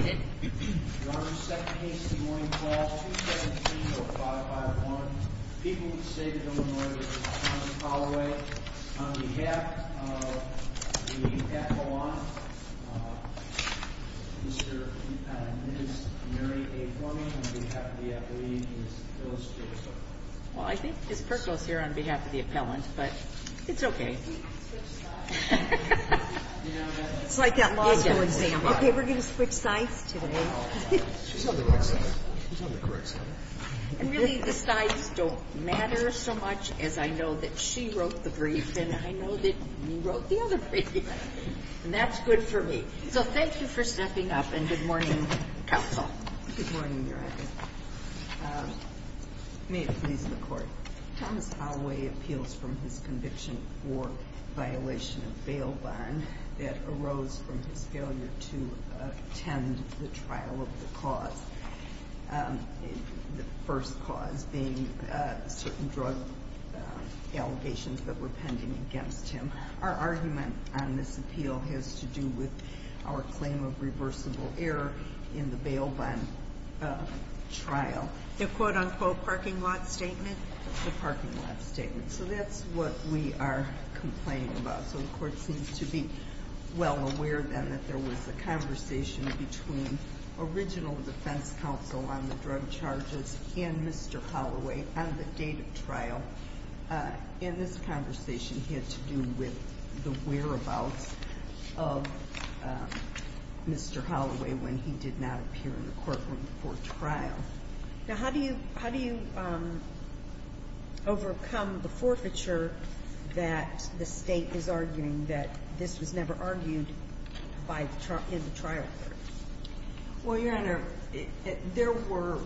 On behalf of the appellant, Mr. and Ms. Mary A. Cormier, on behalf of the appellee, Ms. Phyllis Jacobson. Well, I think Ms. Perkel is here on behalf of the appellant, but it's okay. It's like that law school exam. Okay, we're going to switch sides today. She's on the right side. She's on the correct side. And really, the sides don't matter so much as I know that she wrote the brief and I know that you wrote the other brief. And that's good for me. So thank you for stepping up and good morning, counsel. Good morning, Your Honor. May it please the Court. Thomas Holloway appeals from his conviction for violation of bail bond that arose from his failure to attend the trial of the cause. The first cause being certain drug allegations that were pending against him. Our argument on this appeal has to do with our claim of reversible error in the bail bond trial. The quote-unquote parking lot statement? The parking lot statement. So that's what we are complaining about. So the Court seems to be well aware then that there was a conversation between original defense counsel on the drug charges and Mr. Holloway on the date of trial. And this conversation had to do with the whereabouts of Mr. Holloway when he did not appear in the courtroom for trial. Now, how do you overcome the forfeiture that the State is arguing that this was never argued in the trial? Well, Your Honor, there were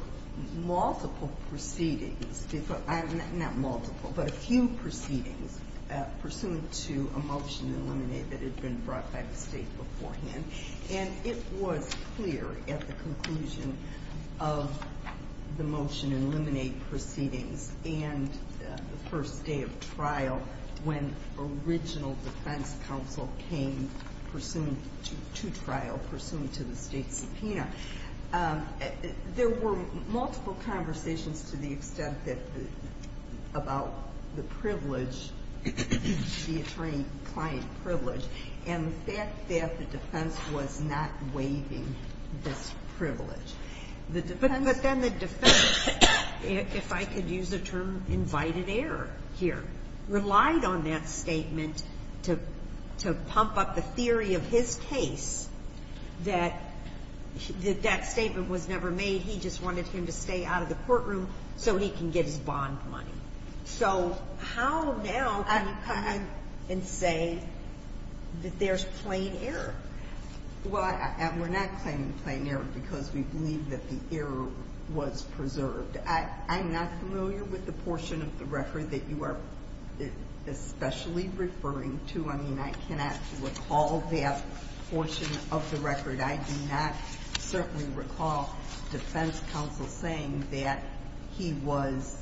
multiple proceedings, not multiple, but a few proceedings pursuant to a motion to eliminate that had been brought by the State beforehand. And it was clear at the conclusion of the motion to eliminate proceedings and the first day of trial when original defense counsel came pursuant to trial, pursuant to the State subpoena. There were multiple conversations to the extent that about the privilege, the attorney-client privilege, and the fact that the defense was not waiving this privilege. But then the defense, if I could use the term invited error here, relied on that statement to pump up the theory of his case that that statement was never made. He just wanted him to stay out of the courtroom so he can get his bond money. So how now can you come in and say that there's plain error? Well, we're not claiming plain error because we believe that the error was preserved. I'm not familiar with the portion of the record that you are especially referring to. I mean, I cannot recall that portion of the record. I do not certainly recall defense counsel saying that he was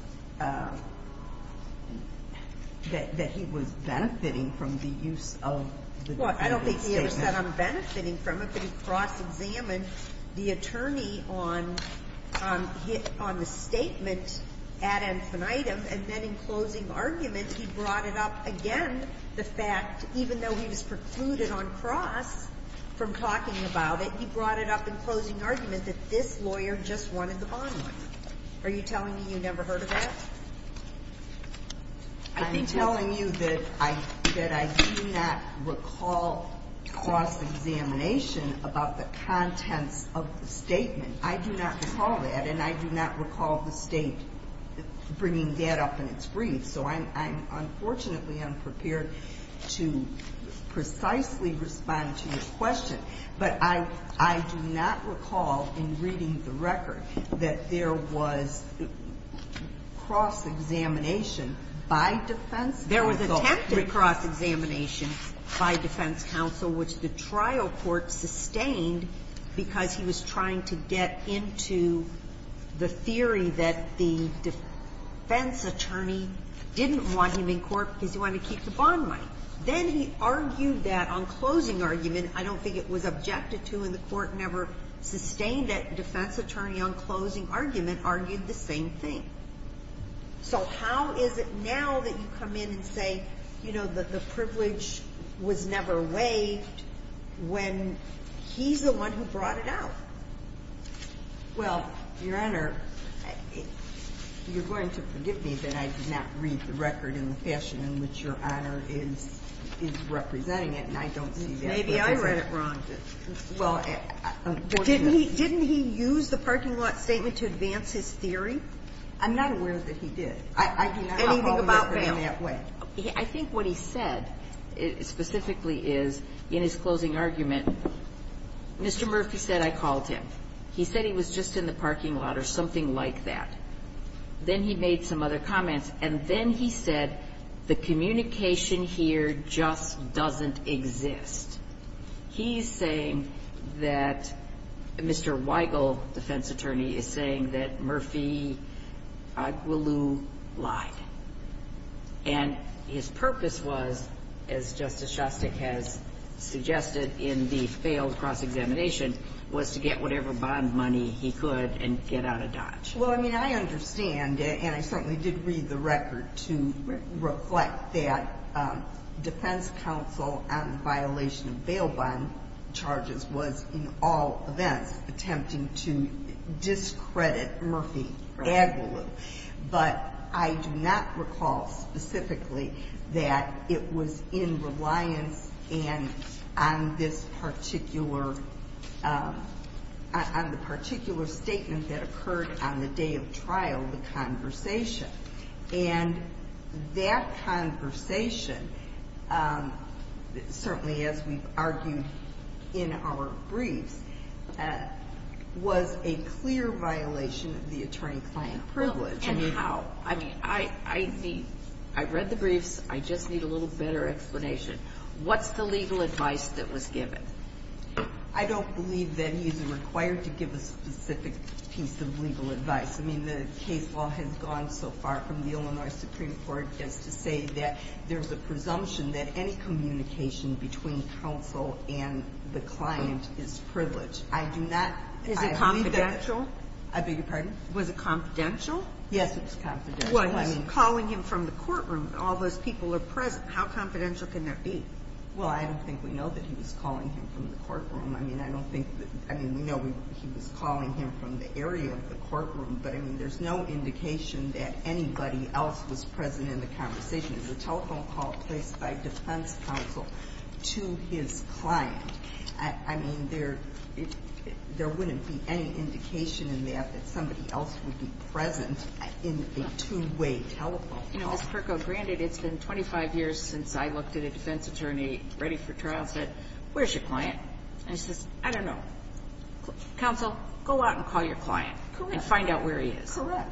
benefiting from the use of the defendant's statement. Well, I don't think he ever said, I'm benefiting from it. But he cross-examined the attorney on the statement ad infinitum. And then in closing argument, he brought it up again, the fact, even though he was precluded on cross from talking about it, he brought it up in closing argument that this lawyer just wanted the bond money. Are you telling me you never heard of that? I'm telling you that I do not recall cross-examination about the contents of the statement. I do not recall that, and I do not recall the State bringing that up in its brief. So I'm unfortunately unprepared to precisely respond to your question. But I do not recall in reading the record that there was cross-examination by defense counsel. There was attempted cross-examination by defense counsel, which the trial court sustained because he was trying to get into the theory that the defense attorney didn't want him in court because he wanted to keep the bond money. Then he argued that on closing argument, I don't think it was objected to in the court, never sustained that defense attorney on closing argument argued the same thing. So how is it now that you come in and say, you know, the privilege was never waived when he's the one who brought it out? Well, Your Honor, you're going to forgive me, but I did not read the record in the fashion in which Your Honor is representing it, and I don't see that. Maybe I read it wrong. Well, unfortunately. Didn't he use the parking lot statement to advance his theory? I'm not aware that he did. Anything about bail. Anything about bail. I think what he said specifically is, in his closing argument, Mr. Murphy said, I called him. He said he was just in the parking lot or something like that. Then he made some other comments. And then he said, the communication here just doesn't exist. He's saying that Mr. Weigel, defense attorney, is saying that Murphy Aguilou lied. And his purpose was, as Justice Shostak has suggested in the failed cross-examination, was to get whatever bond money he could and get out of Dodge. Well, I mean, I understand, and I certainly did read the record to reflect that defense counsel on the violation of bail bond charges was, in all events, attempting to discredit Murphy Aguilou. But I do not recall specifically that it was in reliance and on this particular, on the particular statement that occurred on the day of trial, the conversation. And that conversation, certainly as we've argued in our briefs, was a clear violation of the attorney-client privilege. And how? I mean, I read the briefs. I just need a little better explanation. What's the legal advice that was given? I don't believe that he's required to give a specific piece of legal advice. I mean, the case law has gone so far from the Illinois Supreme Court just to say that there's a presumption that any communication between counsel and the client is privilege. I do not believe that. Is it confidential? I beg your pardon? Was it confidential? Yes, it was confidential. Well, he's calling him from the courtroom. All those people are present. How confidential can that be? Well, I don't think we know that he was calling him from the courtroom. I mean, I don't think that we know he was calling him from the area of the courtroom. But, I mean, there's no indication that anybody else was present in the conversation. It was a telephone call placed by defense counsel to his client. I mean, there wouldn't be any indication in that that somebody else would be present in a two-way telephone call. You know, Ms. Perko, granted it's been 25 years since I looked at a defense attorney ready for trial, said, where's your client? And he says, I don't know. Counsel, go out and call your client and find out where he is. Correct.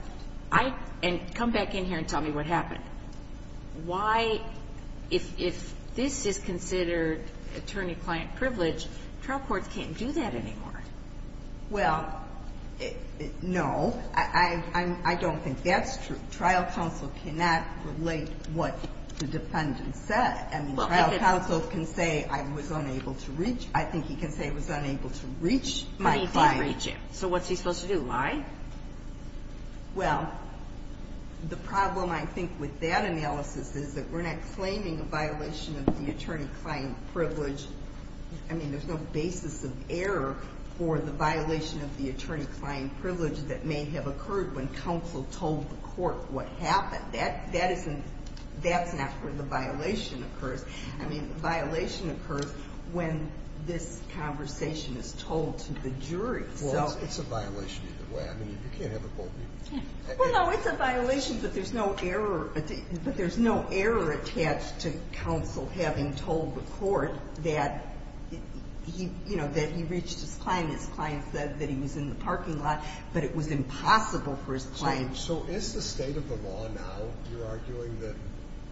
And come back in here and tell me what happened. Why, if this is considered attorney-client privilege, trial courts can't do that anymore. Well, no. I don't think that's true. Trial counsel cannot relate what the defendant said. I mean, trial counsel can say I was unable to reach. I think he can say I was unable to reach my client. But he did reach him. So what's he supposed to do? Lie? Well, the problem, I think, with that analysis is that we're not claiming a violation of the attorney-client privilege. I mean, there's no basis of error for the violation of the attorney-client privilege that may have occurred when counsel told the court what happened. That's not where the violation occurs. I mean, the violation occurs when this conversation is told to the jury. Well, it's a violation either way. I mean, you can't have a court meeting. Well, no. It's a violation, but there's no error attached to counsel having told the court that he reached his client. His client said that he was in the parking lot, but it was impossible for his client. So is the state of the law now, you're arguing,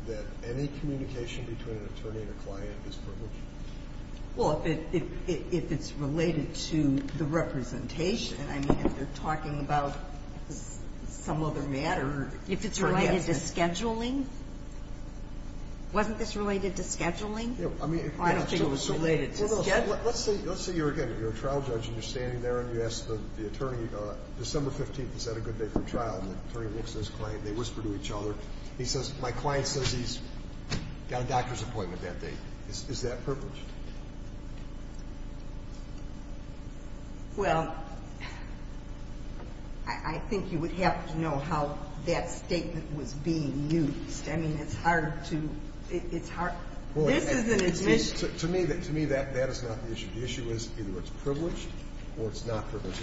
that any communication between an attorney and a client is privileged? Well, if it's related to the representation. I mean, if you're talking about some other matter. If it's related to scheduling? Wasn't this related to scheduling? I don't think it was related to scheduling. Let's say, again, you're a trial judge, and you're standing there, and you ask the attorney, December 15th is that a good day for trial? And the attorney looks at his client, they whisper to each other. He says, my client says he's got a doctor's appointment that day. Is that privileged? Well, I think you would have to know how that statement was being used. I mean, it's hard to – this is an admission. To me, that is not the issue. The issue is either it's privileged or it's not privileged.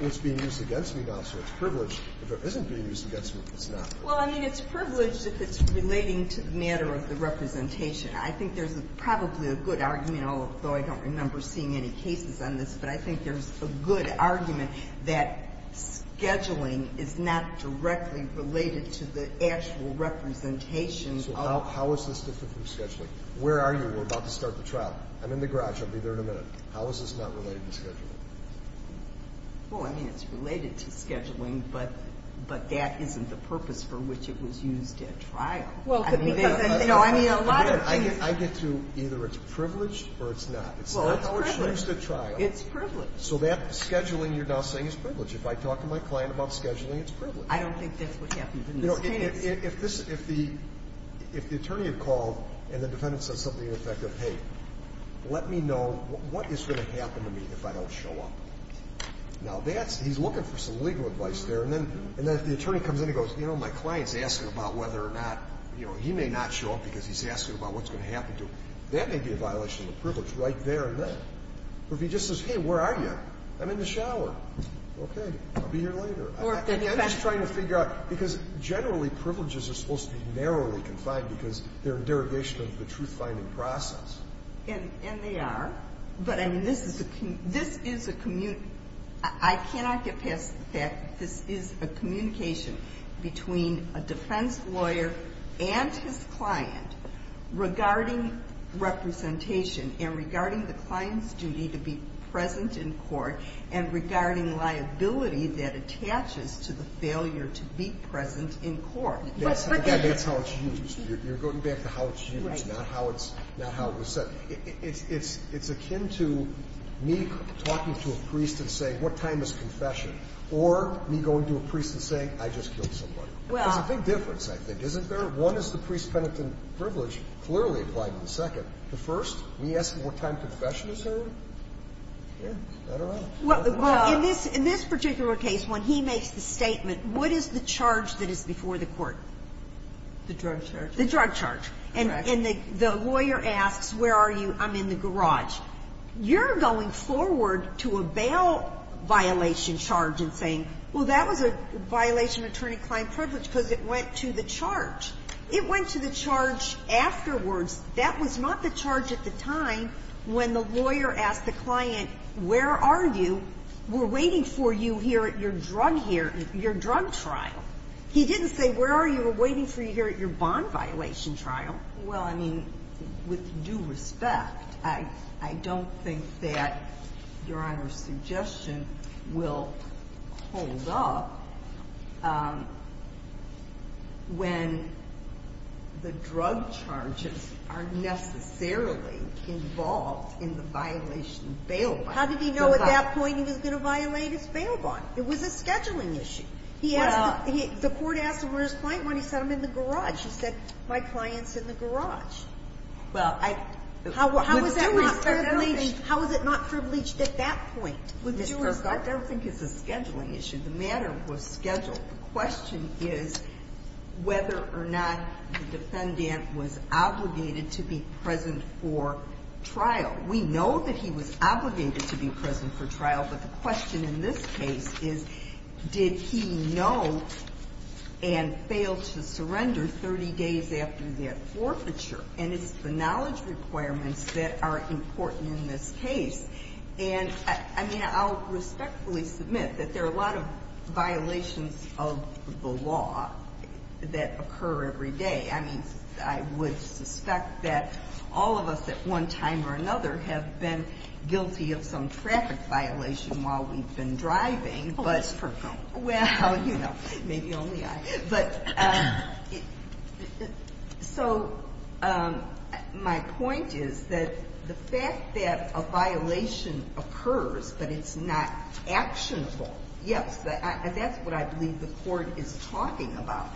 It's being used against me now, so it's privileged. If it isn't being used against me, it's not. Well, I mean, it's privileged if it's relating to the matter of the representation. I think there's probably a good argument, although I don't remember seeing any cases on this, but I think there's a good argument that scheduling is not directly related to the actual representation. So how is this different from scheduling? We're about to start the trial. I'm in the garage. I'll be there in a minute. How is this not related to scheduling? Well, I mean, it's related to scheduling, but that isn't the purpose for which it was used at trial. Well, because – No, I mean, a lot of – I get to either it's privileged or it's not. Well, it's privileged. It's not what's used at trial. It's privileged. So that scheduling you're now saying is privileged. If I talk to my client about scheduling, it's privileged. I don't think that's what happens in this case. If the attorney had called and the defendant said something to the effect of, hey, let me know what is going to happen to me if I don't show up. Now, that's – he's looking for some legal advice there, and then if the attorney comes in and goes, you know, my client's asking about whether or not, you know, he may not show up because he's asking about what's going to happen to him, that may be a violation of privilege right there and then. Or if he just says, hey, where are you? Okay. I'll be here later. Or if they're not – I mean, I'm just trying to figure out, because generally privileges are supposed to be narrowly confined because they're a derogation of the truth-finding process. And they are. But, I mean, this is a – this is a – I cannot get past the fact that this is a communication between a defense lawyer and his client regarding representation and regarding the client's duty to be present in court and regarding liability that attaches to the failure to be present in court. But that's how it's used. You're going back to how it's used, not how it's – not how it was said. It's akin to me talking to a priest and saying, what time is confession? Or me going to a priest and saying, I just killed somebody. There's a big difference, I think, isn't there? One is the priest-penitent privilege clearly applied in the second. The first, me asking what time confession is heard? Well, in this particular case, when he makes the statement, what is the charge that is before the court? The drug charge. The drug charge. And the lawyer asks, where are you? I'm in the garage. You're going forward to a bail violation charge and saying, well, that was a violation of attorney-client privilege because it went to the charge. It went to the charge afterwards. That was not the charge at the time when the lawyer asked the client, where are you? We're waiting for you here at your drug trial. He didn't say, where are you? We're waiting for you here at your bond violation trial. Well, I mean, with due respect, I don't think that Your Honor's suggestion will hold up when the drug charges are necessarily involved in the violation of bail bond. How did he know at that point he was going to violate his bail bond? It was a scheduling issue. The court asked him where his client went. He said, I'm in the garage. He said, my client's in the garage. Well, with due respect, I don't think. How is it not privileged at that point? With due respect, I don't think it's a scheduling issue. The matter was scheduled. The question is whether or not the defendant was obligated to be present for trial. We know that he was obligated to be present for trial, but the question in this case is, did he know and fail to surrender 30 days after that forfeiture? And it's the knowledge requirements that are important in this case. And, I mean, I'll respectfully submit that there are a lot of violations of the law that occur every day. I mean, I would suspect that all of us at one time or another have been guilty of some traffic violation while we've been driving. Well, let's pretend. Well, you know, maybe only I. But so my point is that the fact that a violation occurs but it's not actionable, yes, that's what I believe the Court is talking about.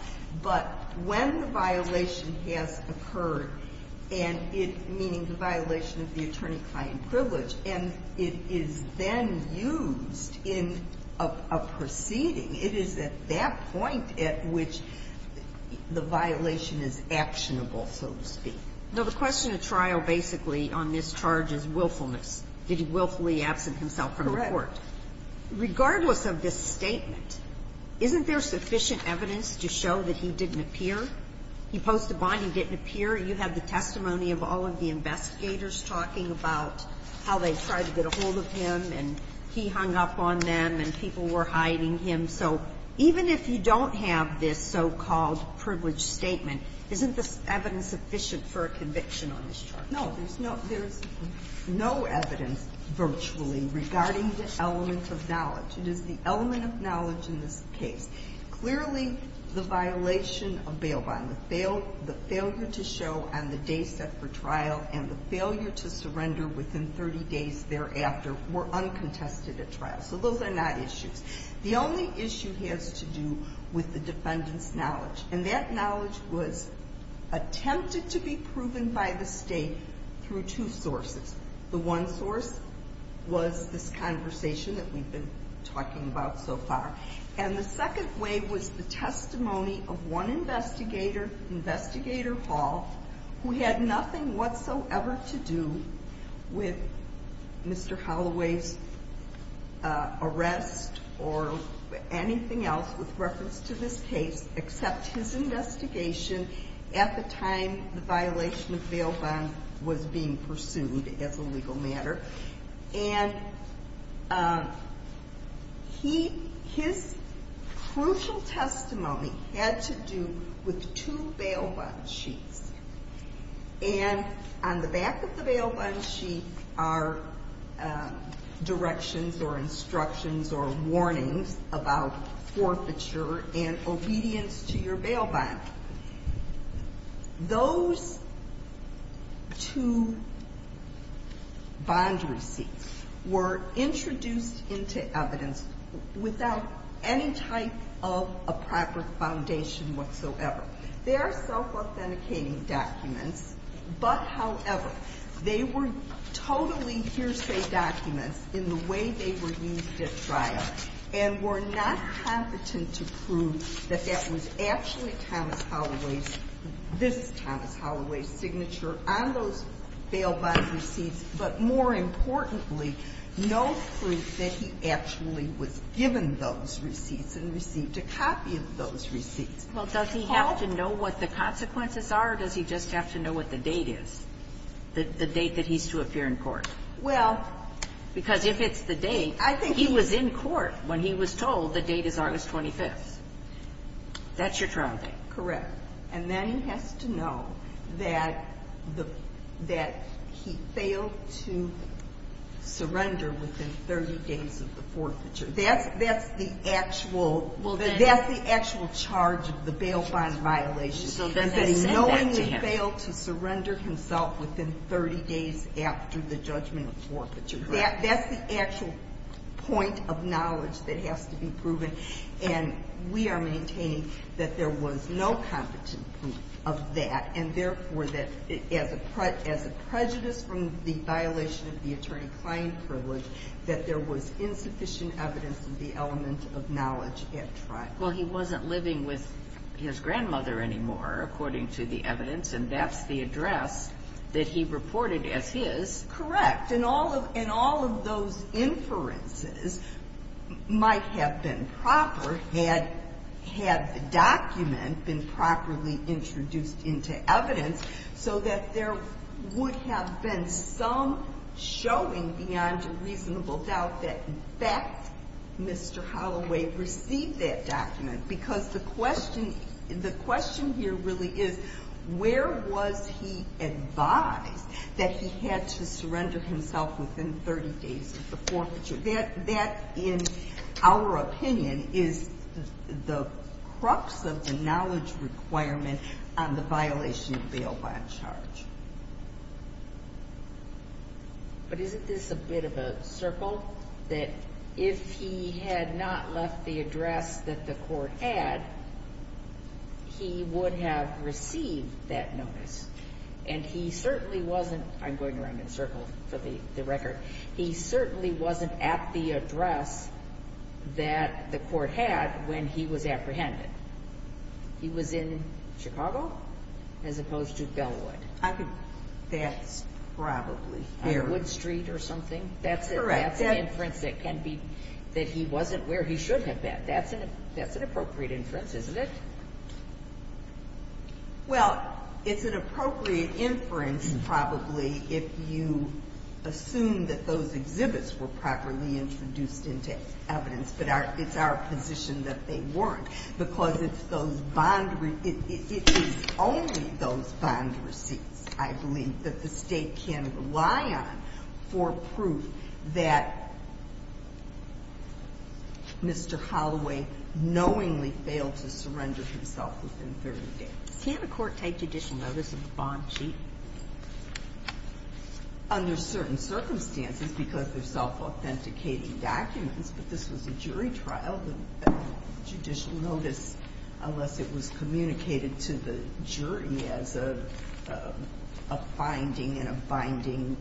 But when the violation has occurred, and it meaning the violation of the attorney-client privilege, and it is then used in a proceeding, it is at that point at which the violation is actionable, so to speak. Now, the question of trial basically on this charge is willfulness. Did he willfully absent himself from the court? Correct. Regardless of this statement, isn't there sufficient evidence to show that he didn't appear? He posed a bond. He didn't appear. You had the testimony of all of the investigators talking about how they tried to get a hold of him, and he hung up on them, and people were hiding him. So even if you don't have this so-called privilege statement, isn't this evidence sufficient for a conviction on this charge? No. There's no evidence virtually regarding this element of knowledge. It is the element of knowledge in this case. Clearly, the violation of bail bond, the failure to show on the day set for trial, and the failure to surrender within 30 days thereafter were uncontested at trial. So those are not issues. The only issue has to do with the defendant's knowledge, and that knowledge was attempted to be proven by the State through two sources. The one source was this conversation that we've been talking about so far, and the second way was the testimony of one investigator, Investigator Hall, who had nothing whatsoever to do with Mr. Holloway's arrest or anything else with reference to this case except his investigation at the time the violation of bail bond was being pursued as a legal matter. And his crucial testimony had to do with two bail bond sheets. And on the back of the bail bond sheet are directions or instructions or warnings about forfeiture and obedience to your bail bond. Those two bond receipts were introduced into evidence without any type of a proper foundation whatsoever. They are self-authenticating documents, but, however, they were totally hearsay documents in the way they were used at trial and were not competent to prove that that was actually Thomas Holloway's – this is Thomas Holloway's signature on those bail bond receipts, but, more importantly, no proof that he actually was given those receipts and received a copy of those receipts. Well, does he have to know what the consequences are, or does he just have to know what the date is, the date that he's to appear in court? Well – Because if it's the date – I think he – He was in court when he was told the date is August 25th. That's your trial date. Correct. And then he has to know that the – that he failed to surrender within 30 days of the forfeiture. That's – that's the actual – Well, then – That's the actual charge of the bail bond violation. So then they sent that to him. And that he knowingly failed to surrender himself within 30 days after the judgment forfeiture. That's the actual point of knowledge that has to be proven. And we are maintaining that there was no competent proof of that, and, therefore, that as a prejudice from the violation of the attorney-client privilege, that there was insufficient evidence of the element of knowledge at trial. Well, he wasn't living with his grandmother anymore, according to the evidence, and that's the address that he reported as his. Correct. And all of – and all of those inferences might have been proper had the document been properly introduced into evidence so that there would have been some showing beyond a reasonable doubt that, in fact, Mr. Holloway received that document. Because the question – the question here really is where was he advised that he had to surrender himself within 30 days of the forfeiture? That, in our opinion, is the crux of the knowledge requirement on the violation of bail bond charge. But isn't this a bit of a circle that if he had not left the address that the court had, he would have received that notice? And he certainly wasn't – I'm going around in circles for the record. He certainly wasn't at the address that the court had when he was apprehended. He was in Chicago as opposed to Bellwood. I could – that's probably fair. On Wood Street or something? Correct. That's an inference that can be – that he wasn't where he should have been. That's an appropriate inference, isn't it? Well, it's an appropriate inference probably if you assume that those exhibits were properly introduced into evidence. But it's our position that they weren't because it's those bond – it is only those bond receipts, I believe, that the State can rely on for proof that Mr. Holloway knowingly failed to surrender himself within 30 days. Can't a court take judicial notice of a bond cheat? Under certain circumstances, because they're self-authenticating documents. But this was a jury trial. The judicial notice, unless it was communicated to the jury as a finding and a binding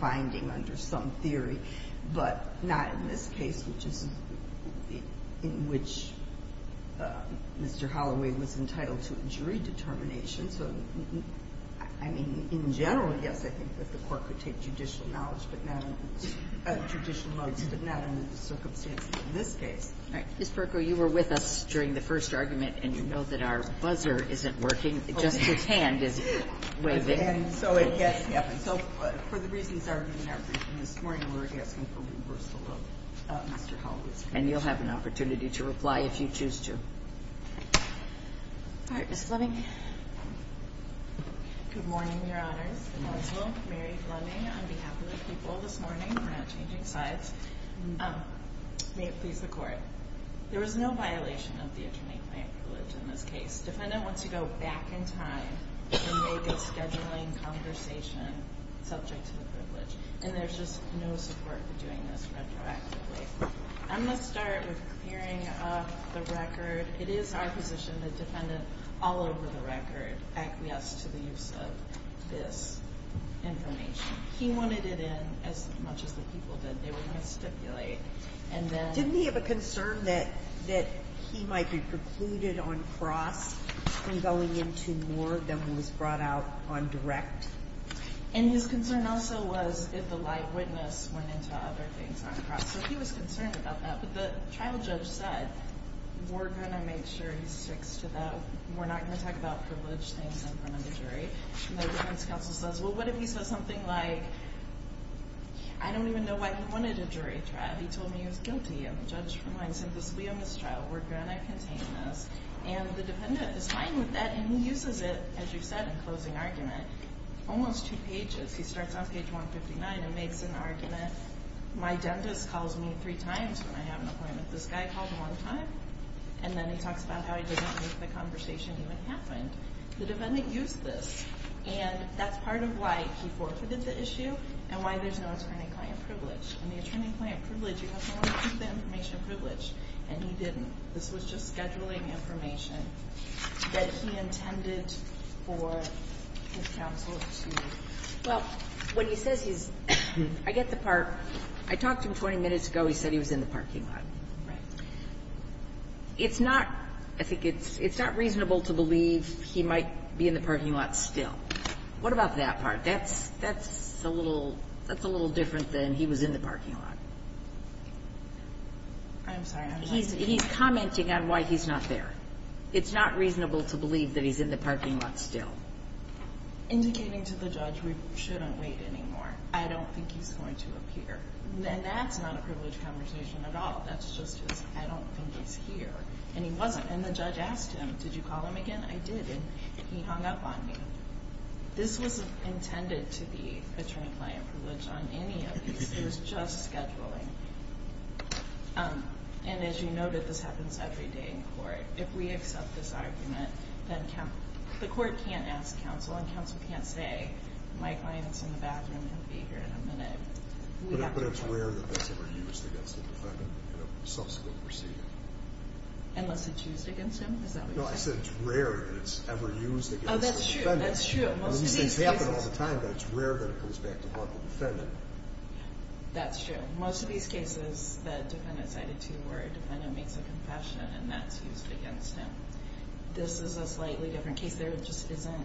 finding under some theory, but not in this case, which is – in which Mr. Holloway was entitled to a jury determination. So, I mean, in general, yes, I think that the court could take judicial knowledge but not – judicial notice but not under the circumstances in this case. All right. Ms. Berko, you were with us during the first argument, and you know that our buzzer isn't working. Just his hand is waving. So, for the reasons argued in our briefing this morning, we're asking for reversal of Mr. Holloway's conviction. And you'll have an opportunity to reply if you choose to. All right. Ms. Fleming. Good morning, Your Honors. My name is Mary Fleming on behalf of the people this morning. We're not changing sides. May it please the Court. There was no violation of the attorney claim privilege in this case. The defendant wants to go back in time and make a scheduling conversation subject to the privilege, and there's just no support for doing this retroactively. I'm going to start with clearing up the record. It is our position that the defendant, all over the record, acquiesced to the use of this information. He wanted it in as much as the people did. They were going to stipulate. Didn't he have a concern that he might be precluded on cross from going into more than was brought out on direct? And his concern also was if the live witness went into other things on cross. So, he was concerned about that. But the trial judge said, we're going to make sure he sticks to that. We're not going to talk about privilege things in front of the jury. And the witness counsel says, well, what if he says something like, I don't even know why he wanted a jury trial. He told me he was guilty, and the judge reminds him, this will be a mistrial. We're going to contain this. And the defendant is fine with that, and he uses it, as you said, in closing argument, almost two pages. He starts on page 159 and makes an argument. My dentist calls me three times when I have an appointment. This guy called one time. And then he talks about how he didn't make the conversation even happen. The defendant used this, and that's part of why he forfeited the issue and why there's no attorney-client privilege. In the attorney-client privilege, you have to want to keep the information privileged. And he didn't. This was just scheduling information that he intended for his counsel to do. Well, when he says he's – I get the part. I talked to him 20 minutes ago. He said he was in the parking lot. Right. It's not – I think it's not reasonable to believe he might be in the parking lot still. What about that part? That's a little different than he was in the parking lot. I'm sorry. He's commenting on why he's not there. It's not reasonable to believe that he's in the parking lot still. Indicating to the judge we shouldn't wait anymore. I don't think he's going to appear. And that's not a privilege conversation at all. That's just his, I don't think he's here. And he wasn't. And the judge asked him, did you call him again? I did. And he hung up on me. This wasn't intended to be attorney-client privilege on any of these. It was just scheduling. And as you noted, this happens every day in court. If we accept this argument, then the court can't ask counsel, and counsel can't say, my client's in the bathroom. He'll be here in a minute. But it's rare that that's ever used against a defendant in a subsequent proceeding. Unless it's used against him? Is that what you're saying? No, I said it's rare that it's ever used against a defendant. Oh, that's true. That's true. These things happen all the time, but it's rare that it comes back to haunt the defendant. That's true. Most of these cases that a defendant cited to you where a defendant makes a confession and that's used against him. This is a slightly different case. There just isn't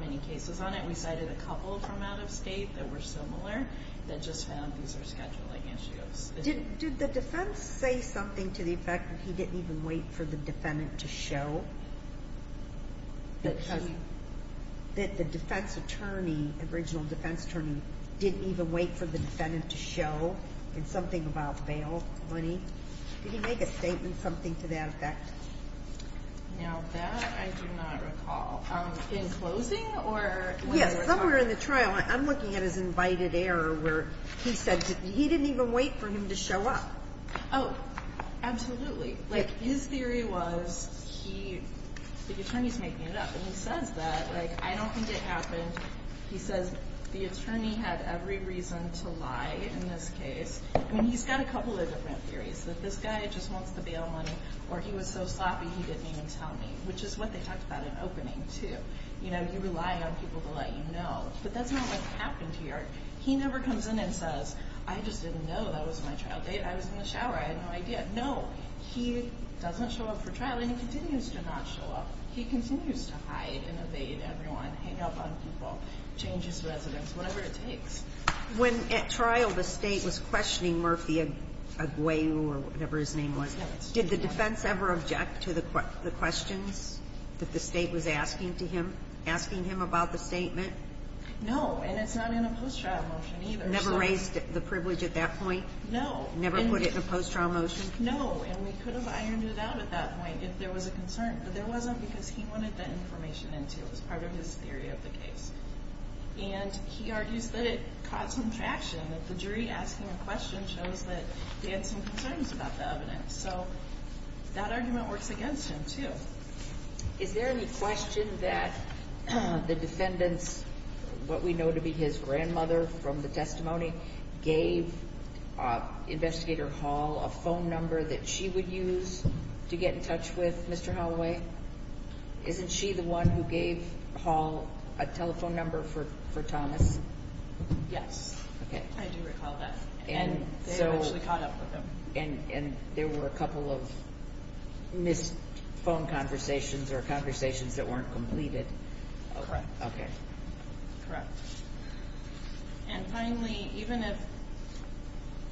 many cases on it. We cited a couple from out of state that were similar that just found these are scheduling issues. Did the defense say something to the effect that he didn't even wait for the defendant to show? That the defense attorney, original defense attorney, didn't even wait for the defendant to show in something about bail money? Did he make a statement, something to that effect? Now, that I do not recall. In closing? Yes, somewhere in the trial. I'm looking at his invited error where he said he didn't even wait for him to show up. Oh, absolutely. His theory was the attorney's making it up, and he says that. I don't think it happened. He says the attorney had every reason to lie in this case. He's got a couple of different theories, that this guy just wants the bail money, or he was so sloppy he didn't even tell me, which is what they talked about in opening, too. You rely on people to let you know. But that's not what happened here. He never comes in and says, I just didn't know that was my trial date. I was in the shower. I had no idea. No. He doesn't show up for trial, and he continues to not show up. He continues to hide and evade everyone, hang up on people, change his residence, whatever it takes. When, at trial, the State was questioning Murphy Aguayo or whatever his name was, did the defense ever object to the questions that the State was asking to him, asking him about the statement? No. And it's not in a post-trial motion, either. Never raised the privilege at that point? No. Never put it in a post-trial motion? No. And we could have ironed it out at that point if there was a concern, but there wasn't because he wanted that information in, too. It was part of his theory of the case. And he argues that it caught some traction, that the jury asking a question shows that they had some concerns about the evidence. So that argument works against him, too. Is there any question that the defendants, what we know to be his grandmother from the testimony, gave Investigator Hall a phone number that she would use to get in touch with Mr. Holloway? Isn't she the one who gave Hall a telephone number for Thomas? Yes. Okay. I do recall that. And they actually caught up with him. And there were a couple of missed phone conversations or conversations that weren't completed? Correct. Okay. Correct. And finally, even if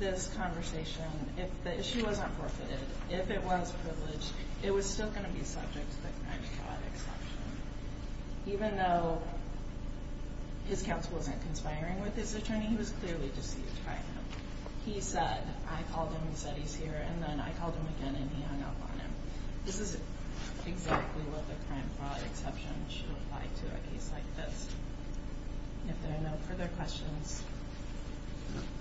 this conversation, if the issue wasn't forfeited, if it was privileged, it was still going to be subject to the crime-fraud exception. Even though his counsel wasn't conspiring with his attorney, he was clearly just the attorney. He said, I called him and said he's here, and then I called him again and he hung up on him. This is exactly what the crime-fraud exception should apply to a case like this. If there are no further questions,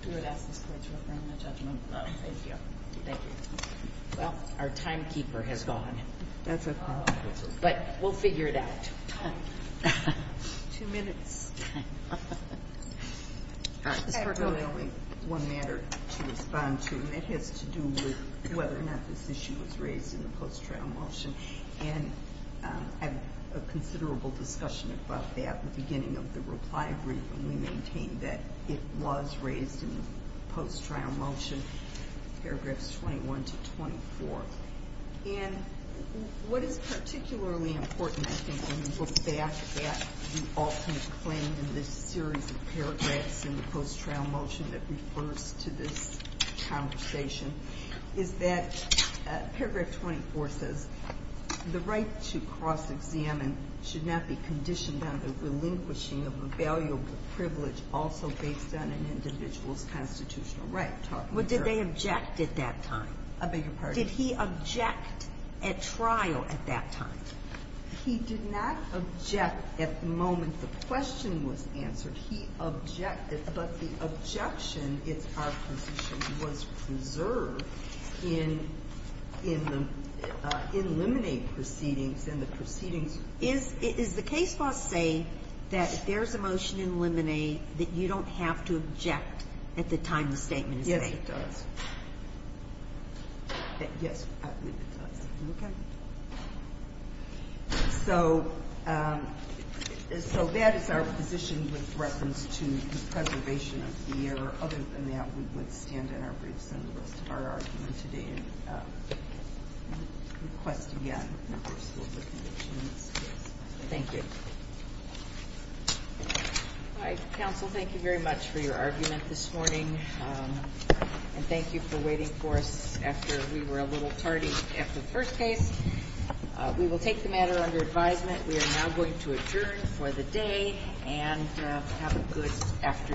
do I ask this Court to affirm the judgment? No, thank you. Thank you. Well, our timekeeper has gone. That's a problem. But we'll figure it out. Two minutes. I have really only one matter to respond to, and it has to do with whether or not this issue was raised in the post-trial motion. And I had a considerable discussion about that at the beginning of the reply briefing. We maintained that it was raised in the post-trial motion, paragraphs 21 to 24. And what is particularly important, I think, when you look back at the ultimate claim in this series of paragraphs in the post-trial motion that refers to this conversation, is that paragraph 24 says the right to cross-examine should not be conditioned on the relinquishing of a valuable privilege also based on an individual's constitutional right. Well, did they object at that time? I beg your pardon? Did he object at trial at that time? He did not object at the moment the question was answered. He objected, but the objection, it's our position, was preserved in the eliminate proceedings and the proceedings. Is the case law say that if there's a motion to eliminate that you don't have to object at the time the statement is made? Yes, it does. Yes, it does. Okay. So that is our position with reference to the preservation of the error. Other than that, we would stand in our briefs on the rest of our argument today and request again members to look into the case. Thank you. All right. Counsel, thank you very much for your argument this morning, and thank you for waiting for us after we were a little tardy. After the first case, we will take the matter under advisement. We are now going to adjourn for the day and have a good afternoon.